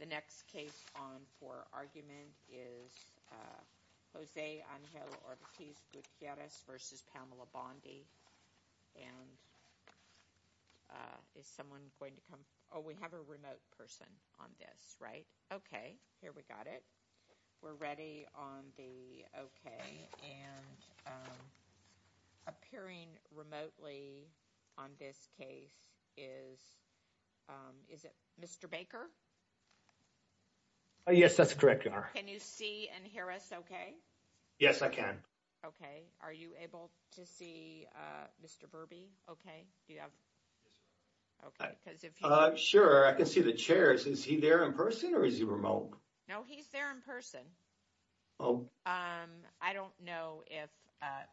The next case on for argument is Jose Angel Ortiz Gutierrez versus Pamela Bondi. And is someone going to come? Oh, we have a remote person on this, right? Okay, here we got it. We're ready on the okay. And appearing remotely on this case is, is it Mr. Baker? Yes, that's correct. Can you see and hear us okay? Yes, I can. Okay, are you able to see Mr. Burby? Okay, do you have? Okay, because if. Sure, I can see the chairs. Is he there in person or is he remote? No, he's there in person. Oh. I don't know if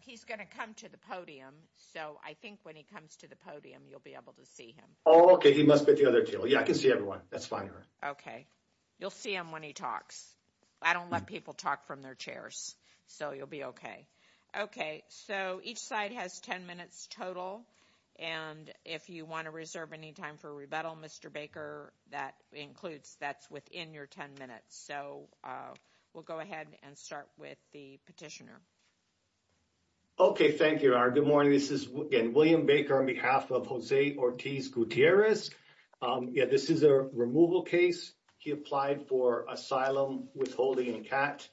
he's going to come to the podium. So I think when he comes to the podium, you'll be able to see him. Okay, he must be at the other table. Yeah, I can see everyone. That's fine. Okay, you'll see him when he talks. I don't let people talk from their chairs. So you'll be okay. Okay, so each side has 10 minutes total. And if you want to reserve any time for rebuttal, Mr. Baker, that includes that's within your 10 minutes. So we'll go ahead and start with the petitioner. Okay, thank you. Good morning, this is William Baker on behalf of Jose Ortiz Gutierrez. Yeah, this is a removal case. He applied for asylum withholding in CAT.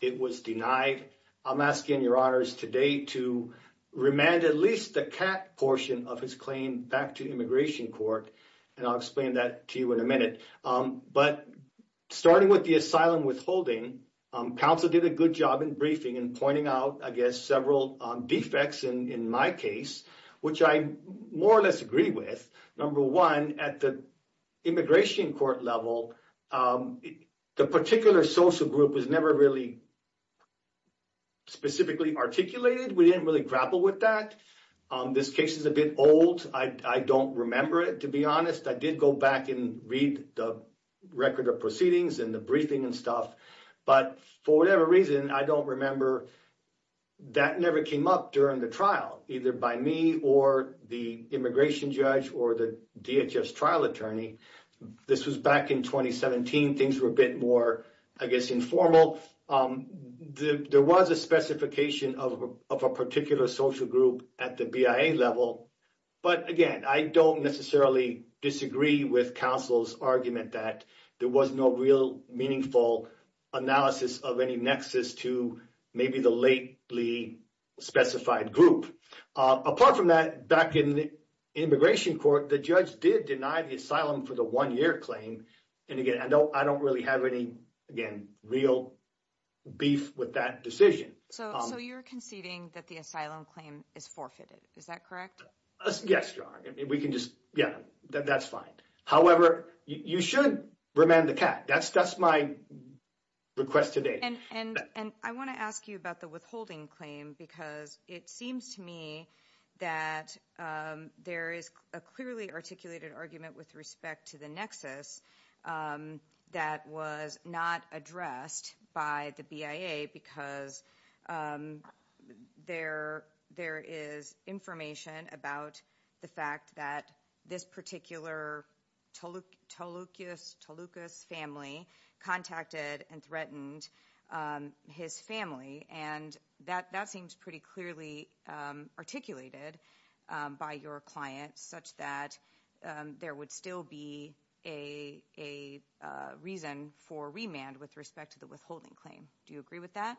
It was denied. I'm asking your honors today to remand at least the CAT portion of his claim back to immigration court. And I'll explain that to you in a minute. But starting with the asylum withholding, counsel did a good job in briefing and pointing out, I guess, several defects in my case, which I more or less agree with. Number one, at the immigration court level, the particular social group was never really specifically articulated. We didn't really grapple with that. This case is a bit old. I don't remember it, to be honest. I did go back and read the record of proceedings and the briefing and stuff. But for whatever reason, I don't remember. That never came up during the trial, either by me or the immigration judge or the DHS trial attorney. This was back in 2017. Things were a bit more, I guess, informal. There was a specification of a particular social group at the BIA level. But again, I don't necessarily disagree with counsel's argument that there was no real meaningful analysis of any nexus to maybe the lately specified group. Apart from that, back in the immigration court, the judge did deny the asylum for the one-year claim. And again, I don't really have any, again, real beef with that decision. So you're conceding that the asylum claim is forfeited. Is that correct? Yes, Your Honor. We can just, yeah, that's fine. However, you should remand the cat. That's my request today. And I wanna ask you about the withholding claim because it seems to me that there is a clearly articulated argument with respect to the nexus that was not addressed by the BIA because there is information about the fact that this particular Tolucas family contacted and threatened his family. And that seems pretty clearly articulated by your client such that there would still be a reason for remand with respect to the withholding claim. Do you agree with that?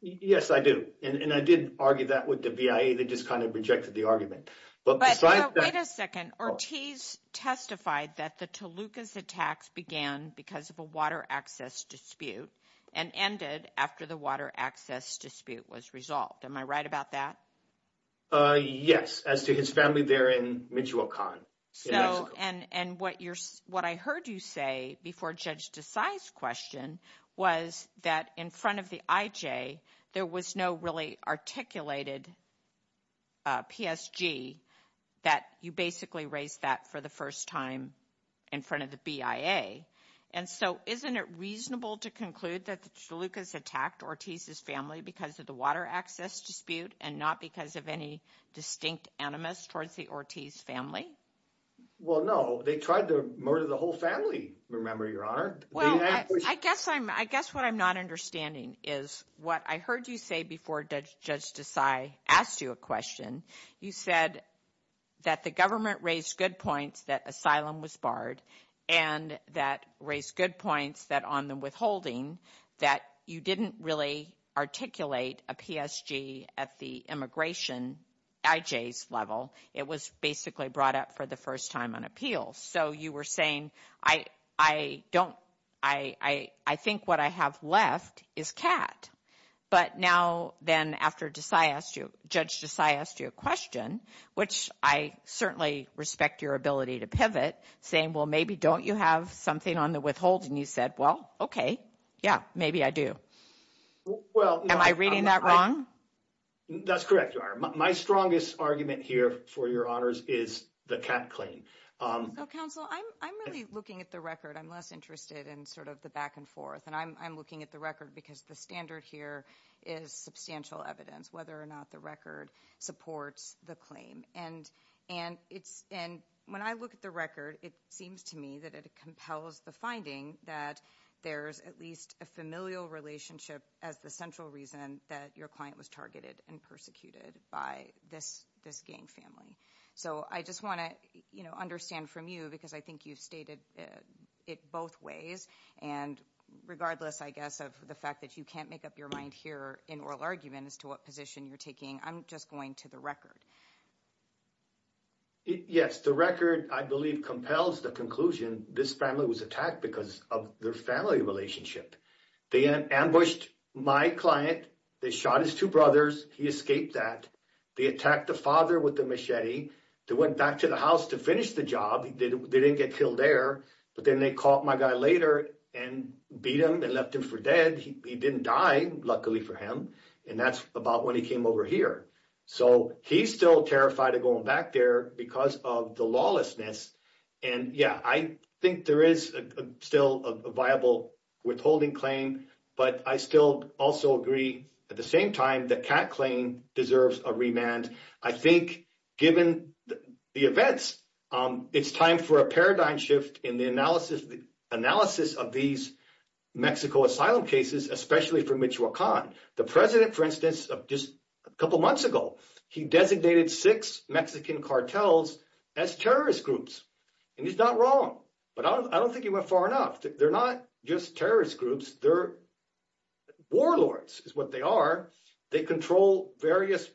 Yes, I do. And I did argue that with the BIA. They just kind of rejected the argument. But besides that- Wait a second. Ortiz testified that the Tolucas attacks began because of a water access dispute and ended after the water access dispute was resolved. Am I right about that? Yes, as to his family there in Michoacan, in Mexico. And what I heard you say before Judge Desai's question was that in front of the IJ, there was no really articulated PSG that you basically raised that for the first time in front of the BIA. And so isn't it reasonable to conclude that the Tolucas attacked Ortiz's family because of the water access dispute and not because of any distinct animus towards the Ortiz family? Well, no, they tried to murder the whole family. Remember, Your Honor? Well, I guess what I'm not understanding is what I heard you say before Judge Desai asked you a question. You said that the government raised good points that asylum was barred and that raised good points that on the withholding that you didn't really articulate a PSG at the immigration IJ's level. It was basically brought up for the first time on appeal. So you were saying, I think what I have left is cat. But now then after Judge Desai asked you a question, which I certainly respect your ability to pivot, saying, well, maybe don't you have something on the withholding? You said, well, okay, yeah, maybe I do. Am I reading that wrong? That's correct, Your Honor. My strongest argument here for Your Honors is the cat claim. So counsel, I'm really looking at the record. I'm less interested in sort of the back and forth. And I'm looking at the record because the standard here is substantial evidence whether or not the record supports the claim. And when I look at the record, it seems to me that it compels the finding that there's at least a familial relationship as the central reason that your client was targeted and persecuted by this gang family. So I just wanna understand from you because I think you've stated it both ways. And regardless, I guess, of the fact that you can't make up your mind here in oral argument as to what position you're taking, I'm just going to the record. Yes, the record, I believe, compels the conclusion this family was attacked because of their family relationship. They ambushed my client. They shot his two brothers. He escaped that. They attacked the father with a machete. They went back to the house to finish the job. They didn't get killed there. But then they caught my guy later and beat him and left him for dead. He didn't die, luckily for him. And that's about when he came over here. So he's still terrified of going back there because of the lawlessness. And yeah, I think there is still a viable withholding claim, but I still also agree at the same time that Kat's claim deserves a remand. I think given the events, it's time for a paradigm shift in the analysis of these Mexico asylum cases, especially for Michoacan. The president, for instance, just a couple months ago, he designated six Mexican cartels as terrorist groups. And he's not wrong, but I don't think he went far enough. They're not just terrorist groups. They're warlords is what they are. They control various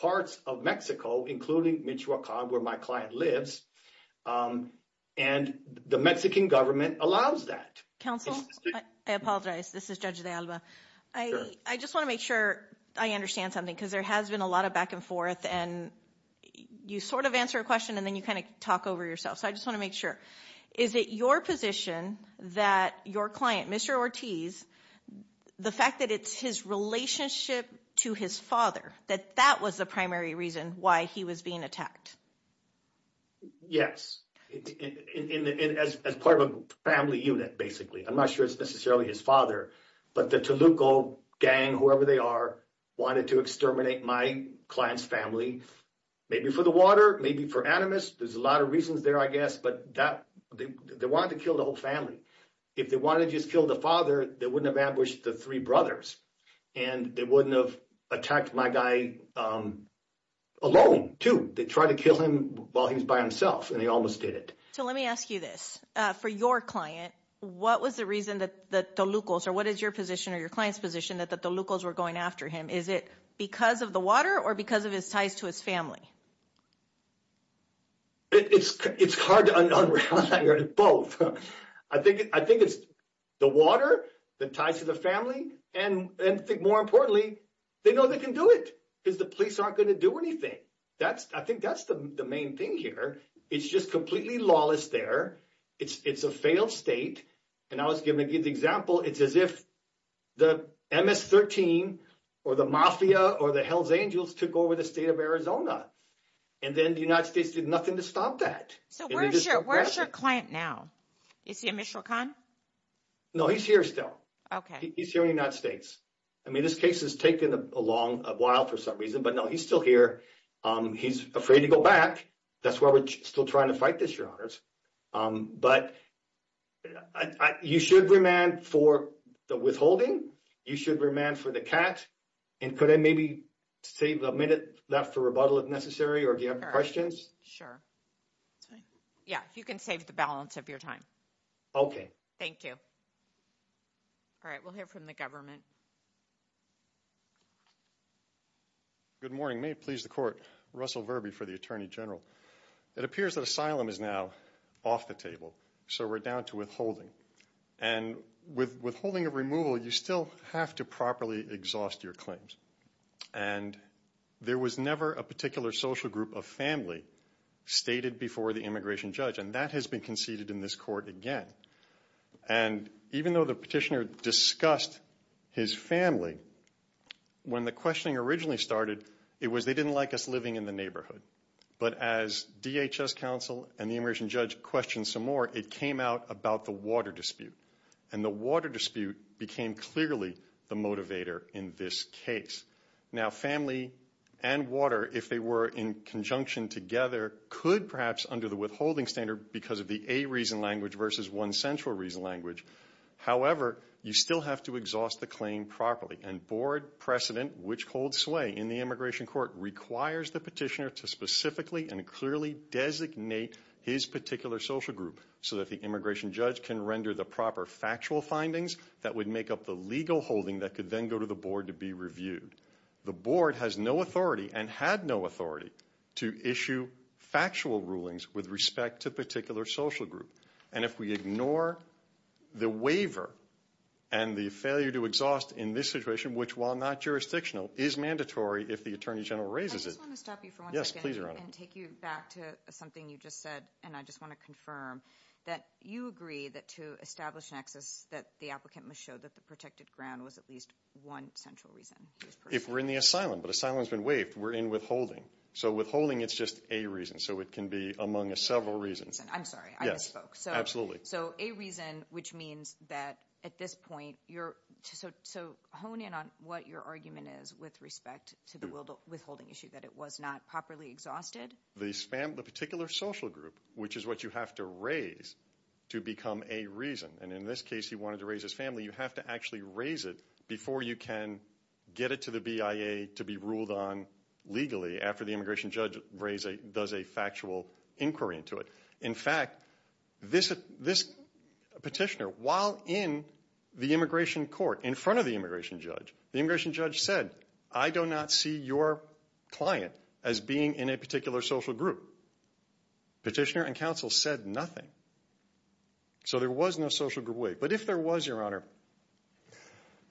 parts of Mexico, including Michoacan, where my client lives. And the Mexican government allows that. Counsel, I apologize. This is Judge de Alba. I just want to make sure I understand something because there has been a lot of back and forth and you sort of answer a question and then you kind of talk over yourself. So I just want to make sure. Is it your position that your client, Mr. Ortiz, the fact that it's his relationship to his father, that that was the primary reason why he was being attacked? Yes. And as part of a family unit, basically. I'm not sure it's necessarily his father, but the Toluco gang, whoever they are, wanted to exterminate my client's family, maybe for the water, maybe for animus. There's a lot of reasons there, I guess, but they wanted to kill the whole family. If they wanted to just kill the father, they wouldn't have ambushed the three brothers and they wouldn't have attacked my guy alone, too. They tried to kill him while he was by himself and they almost did it. So let me ask you this. For your client, what was the reason that the Tolucos, or what is your position or your client's position that the Tolucos were going after him? Is it because of the water or because of his ties to his family? It's hard to unravel that, both. I think it's the water, the ties to the family, and I think more importantly, they know they can do it because the police aren't going to do anything. I think that's the main thing here. It's just completely lawless there. It's a failed state, and I was going to give the example. It's as if the MS-13 or the mafia or the Hells Angels took over the state of Arizona, and then the United States did nothing to stop that. So where's your client now? Is he a Michoacan? No, he's here still. Okay. He's here in the United States. I mean, this case has taken a while for some reason, but no, he's still here. He's afraid to go back. That's why we're still trying to fight this, Your Honors. But you should remand for the withholding. You should remand for the cat, and could I maybe save a minute left for rebuttal, if necessary, or do you have questions? Sure. Yeah, you can save the balance of your time. Okay. Thank you. All right, we'll hear from the government. Good morning. May it please the Court. Russell Verbee for the Attorney General. It appears that asylum is now off the table, so we're down to withholding. And with withholding of removal, you still have to properly exhaust your claims. And there was never a particular social group of family stated before the immigration judge, and that has been conceded in this Court again. And even though the petitioner discussed his family, when the questioning originally started, it was they didn't like us living in the neighborhood. But as DHS counsel and the immigration judge questioned some more, it came out about the water dispute. And the water dispute became clearly the motivator in this case. Now, family and water, if they were in conjunction together, could perhaps under the withholding standard because of the a reason language versus one central reason language. However, you still have to exhaust the claim properly. And board precedent, which holds sway in the immigration court, requires the petitioner to specifically and clearly designate his particular social group so that the immigration judge can render the proper factual findings that would make up the legal holding that could then go to the board to be reviewed. The board has no authority and had no authority to issue factual rulings with respect to a particular social group. And if we ignore the waiver and the failure to exhaust in this situation, which, while not jurisdictional, is mandatory if the attorney general raises it. I just want to stop you for one second. Yes, please, Your Honor. And take you back to something you just said. And I just want to confirm that you agree that to establish an access that the applicant must show that the protected ground was at least one central reason. If we're in the asylum, but asylum's been waived, we're in withholding. So withholding, it's just a reason. So it can be among several reasons. I'm sorry, I misspoke. So a reason, which means that at this point, so hone in on what your argument is with respect to the withholding issue, that it was not properly exhausted? The particular social group, which is what you have to raise to become a reason. And in this case, he wanted to raise his family. You have to actually raise it before you can get it to the BIA to be ruled on legally after the immigration judge does a factual inquiry into it. In fact, this petitioner, while in the immigration court, in front of the immigration judge, the immigration judge said, I do not see your client as being in a particular social group. Petitioner and counsel said nothing. So there was no social group waive. But if there was, Your Honor,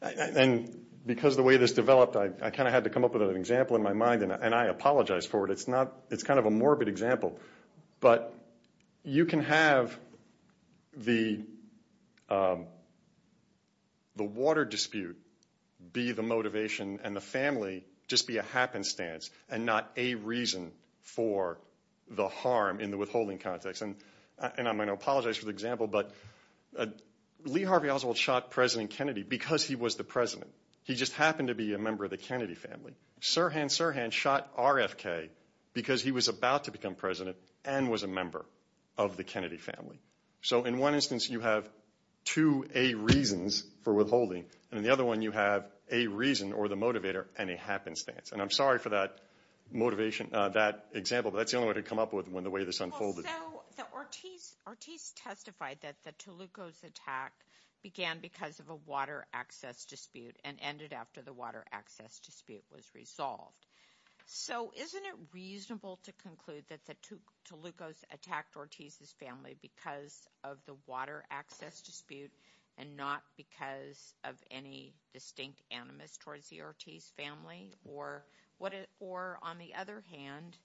and because the way this developed, I kind of had to come up with an example in my mind, and I apologize for it. It's not, it's kind of a morbid example. But you can have the water dispute be the motivation and the family just be a happenstance and not a reason for the harm in the withholding context. And I'm gonna apologize for the example, but Lee Harvey Oswald shot President Kennedy because he was the president. He just happened to be a member of the Kennedy family. Sirhan Sirhan shot RFK because he was about to become president and was a member of the Kennedy family. So in one instance, you have two A reasons for withholding. And in the other one, you have a reason or the motivator and a happenstance. And I'm sorry for that motivation, that example, but that's the only way to come up with when the way this unfolded. So Ortiz testified that the Tolucos attack began because of a water access dispute and ended after the water access dispute was resolved. So isn't it reasonable to conclude that the Tolucos attacked Ortiz's family because of the water access dispute and not because of any distinct animus towards the Ortiz family? Or on the other hand,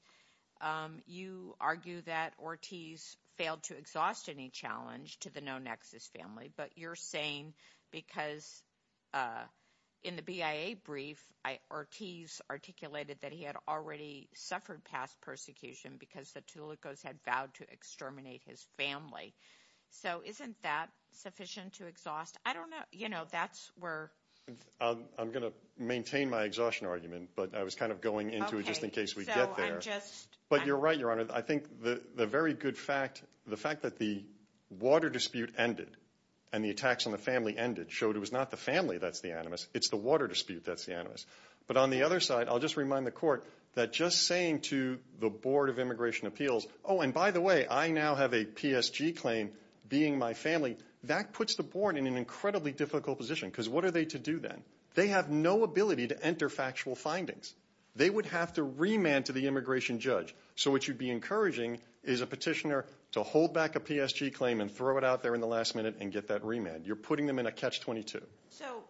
you argue that Ortiz failed to exhaust any challenge to the no nexus family, but you're saying because in the BIA brief, Ortiz articulated that he had already suffered past persecution because the Tolucos had vowed to exterminate his family. So isn't that sufficient to exhaust? I don't know, you know, that's where... I'm gonna maintain my exhaustion argument, but I was kind of going into it just in case we get there. But you're right, Your Honor. I think the very good fact, the fact that the water dispute ended and the attacks on the family ended showed it was not the family that's the animus, but on the other side, I'll just remind the court that just saying to the Board of Immigration Appeals, oh, and by the way, I now have a PSG claim being my family, that puts the board in an incredibly difficult position because what are they to do then? They have no ability to enter factual findings. They would have to remand to the immigration judge. So what you'd be encouraging is a petitioner to hold back a PSG claim and throw it out there in the last minute and get that remand. You're putting them in a catch-22. So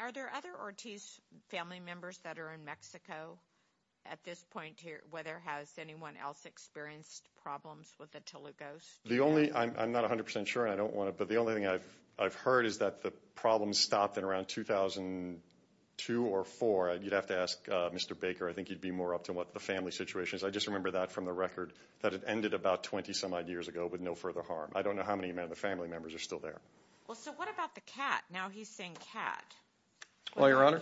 are there other Ortiz family members that are in Mexico at this point here, whether has anyone else experienced problems with the Tolucos? The only, I'm not 100% sure and I don't want to, but the only thing I've heard is that the problem stopped in around 2002 or four. You'd have to ask Mr. Baker. I think he'd be more up to what the family situation is. I just remember that from the record that it ended about 20 some odd years ago with no further harm. I don't know how many of the family members are still there. Well, so what about the cat? Now he's saying cat. Well, Your Honor,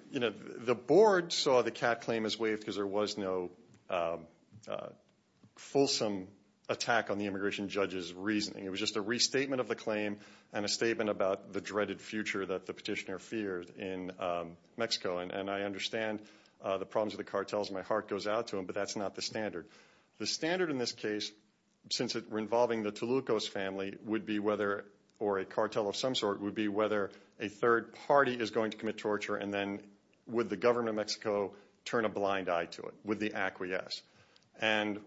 the board saw the cat claim as waived because there was no fulsome attack on the immigration judge's reasoning. It was just a restatement of the claim and a statement about the dreaded future that the petitioner feared in Mexico. And I understand the problems of the cartels. My heart goes out to them, but that's not the standard. The standard in this case, since we're involving the Tolucos family, would be whether, or a cartel of some sort, would be whether a third party is going to commit torture and then would the government of Mexico turn a blind eye to it with the acquiesce. And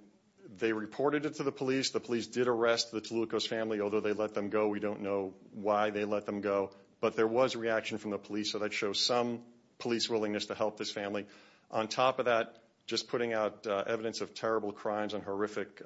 they reported it to the police. The police did arrest the Tolucos family, although they let them go. We don't know why they let them go, but there was reaction from the police. So that shows some police willingness to help this family. On top of that, just putting out evidence of terrible crimes and horrific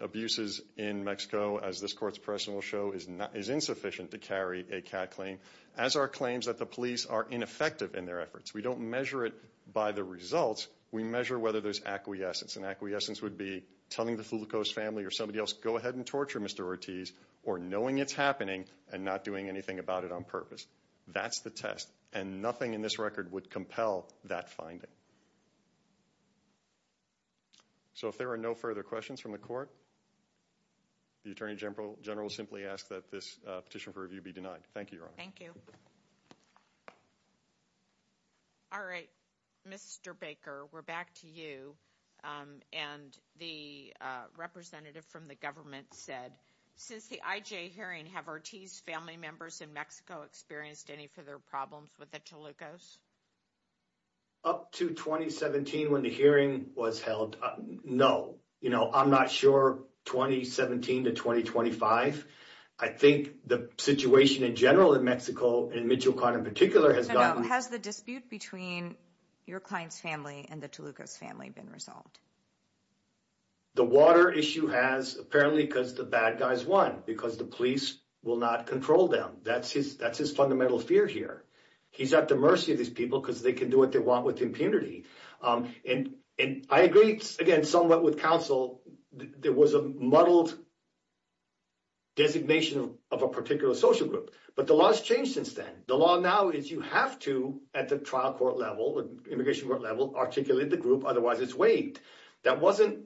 abuses in Mexico, as this court's person will show, is insufficient to carry a CAT claim, as are claims that the police are ineffective in their efforts. We don't measure it by the results. We measure whether there's acquiescence. And acquiescence would be telling the Tolucos family or somebody else, go ahead and torture Mr. Ortiz, or knowing it's happening and not doing anything about it on purpose. That's the test. And nothing in this record would compel that finding. So if there are no further questions from the court, the Attorney General will simply ask that this petition for review be denied. Thank you, Your Honor. Thank you. All right, Mr. Baker, we're back to you. And the representative from the government said, since the IJ hearing, have Ortiz's family members in Mexico experienced any further problems with the Tolucos? Up to 2017, when the hearing was held, no. I'm not sure 2017 to 2025. I think the situation in general in Mexico, in Michoacan in particular, has gotten- Has the dispute between your client's family and the Tolucos family been resolved? The water issue has, apparently, because the bad guys won, because the police will not control them. That's his fundamental fear here. He's at the mercy of these people because they can do what they want with impunity. And I agree, again, somewhat with counsel, there was a muddled designation of a particular social group. But the law has changed since then. The law now is you have to, at the trial court level, immigration court level, articulate the group, otherwise it's waived. That wasn't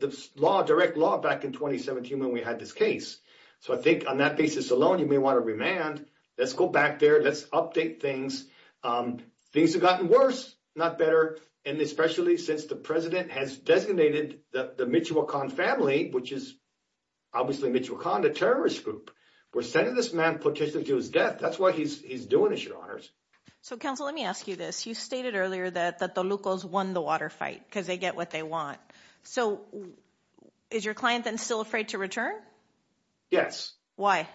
the law, direct law, back in 2017 when we had this case. So I think, on that basis alone, you may want to remand. Let's go back there, let's update things. Things have gotten worse, not better. And especially since the president has designated the Michoacan family, which is obviously Michoacan, the terrorist group, we're sending this man petitioning to his death. That's why he's doing it, your honors. So counsel, let me ask you this. You stated earlier that the Tolucos won the water fight because they get what they want. So is your client then still afraid to return? Yes. Why?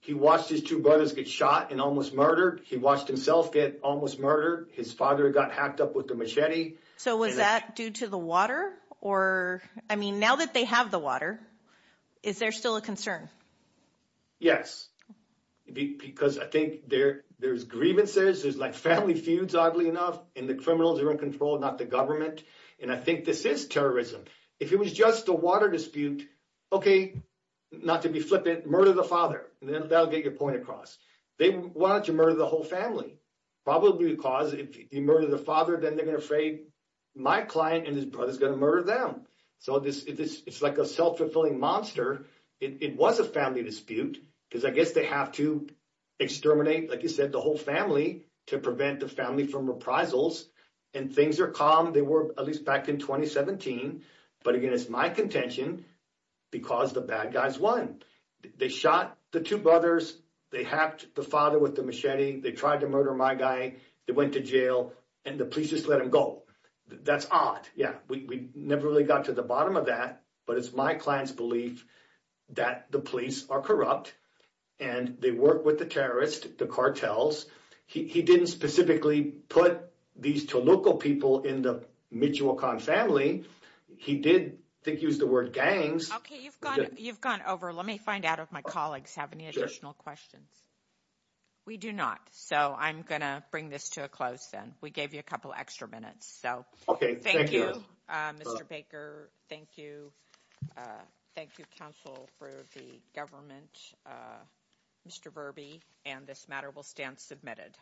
He watched his two brothers get shot and almost murdered. He watched himself get almost murdered. His father got hacked up with a machete. So was that due to the water? Or, I mean, now that they have the water, is there still a concern? Yes. Because I think there's grievances, there's like family feuds, oddly enough, and the criminals are in control, not the government. And I think this is terrorism. If it was just a water dispute, okay, not to be flippant, murder the father. Then that'll get your point across. They wanted to murder the whole family, probably because if you murder the father, then they're gonna afraid my client and his brother's gonna murder them. So it's like a self-fulfilling monster. It was a family dispute because I guess they have to exterminate, like you said, the whole family to prevent the family from reprisals. And things are calm. They were at least back in 2017. But again, it's my contention because the bad guys won. They shot the two brothers. They hacked the father with the machete. They tried to murder my guy. They went to jail, and the police just let him go. That's odd. Yeah, we never really got to the bottom of that, but it's my client's belief that the police are corrupt and they work with the terrorists, the cartels. He didn't specifically put these two local people in the Michoacan family. He did, I think, use the word gangs. Okay, you've gone over. Let me find out if my colleagues have any additional questions. We do not, so I'm gonna bring this to a close then. We gave you a couple extra minutes, so. Okay, thank you. Thank you, Mr. Baker. Thank you. Thank you, counsel for the government, Mr. Verby, and this matter will stand submitted.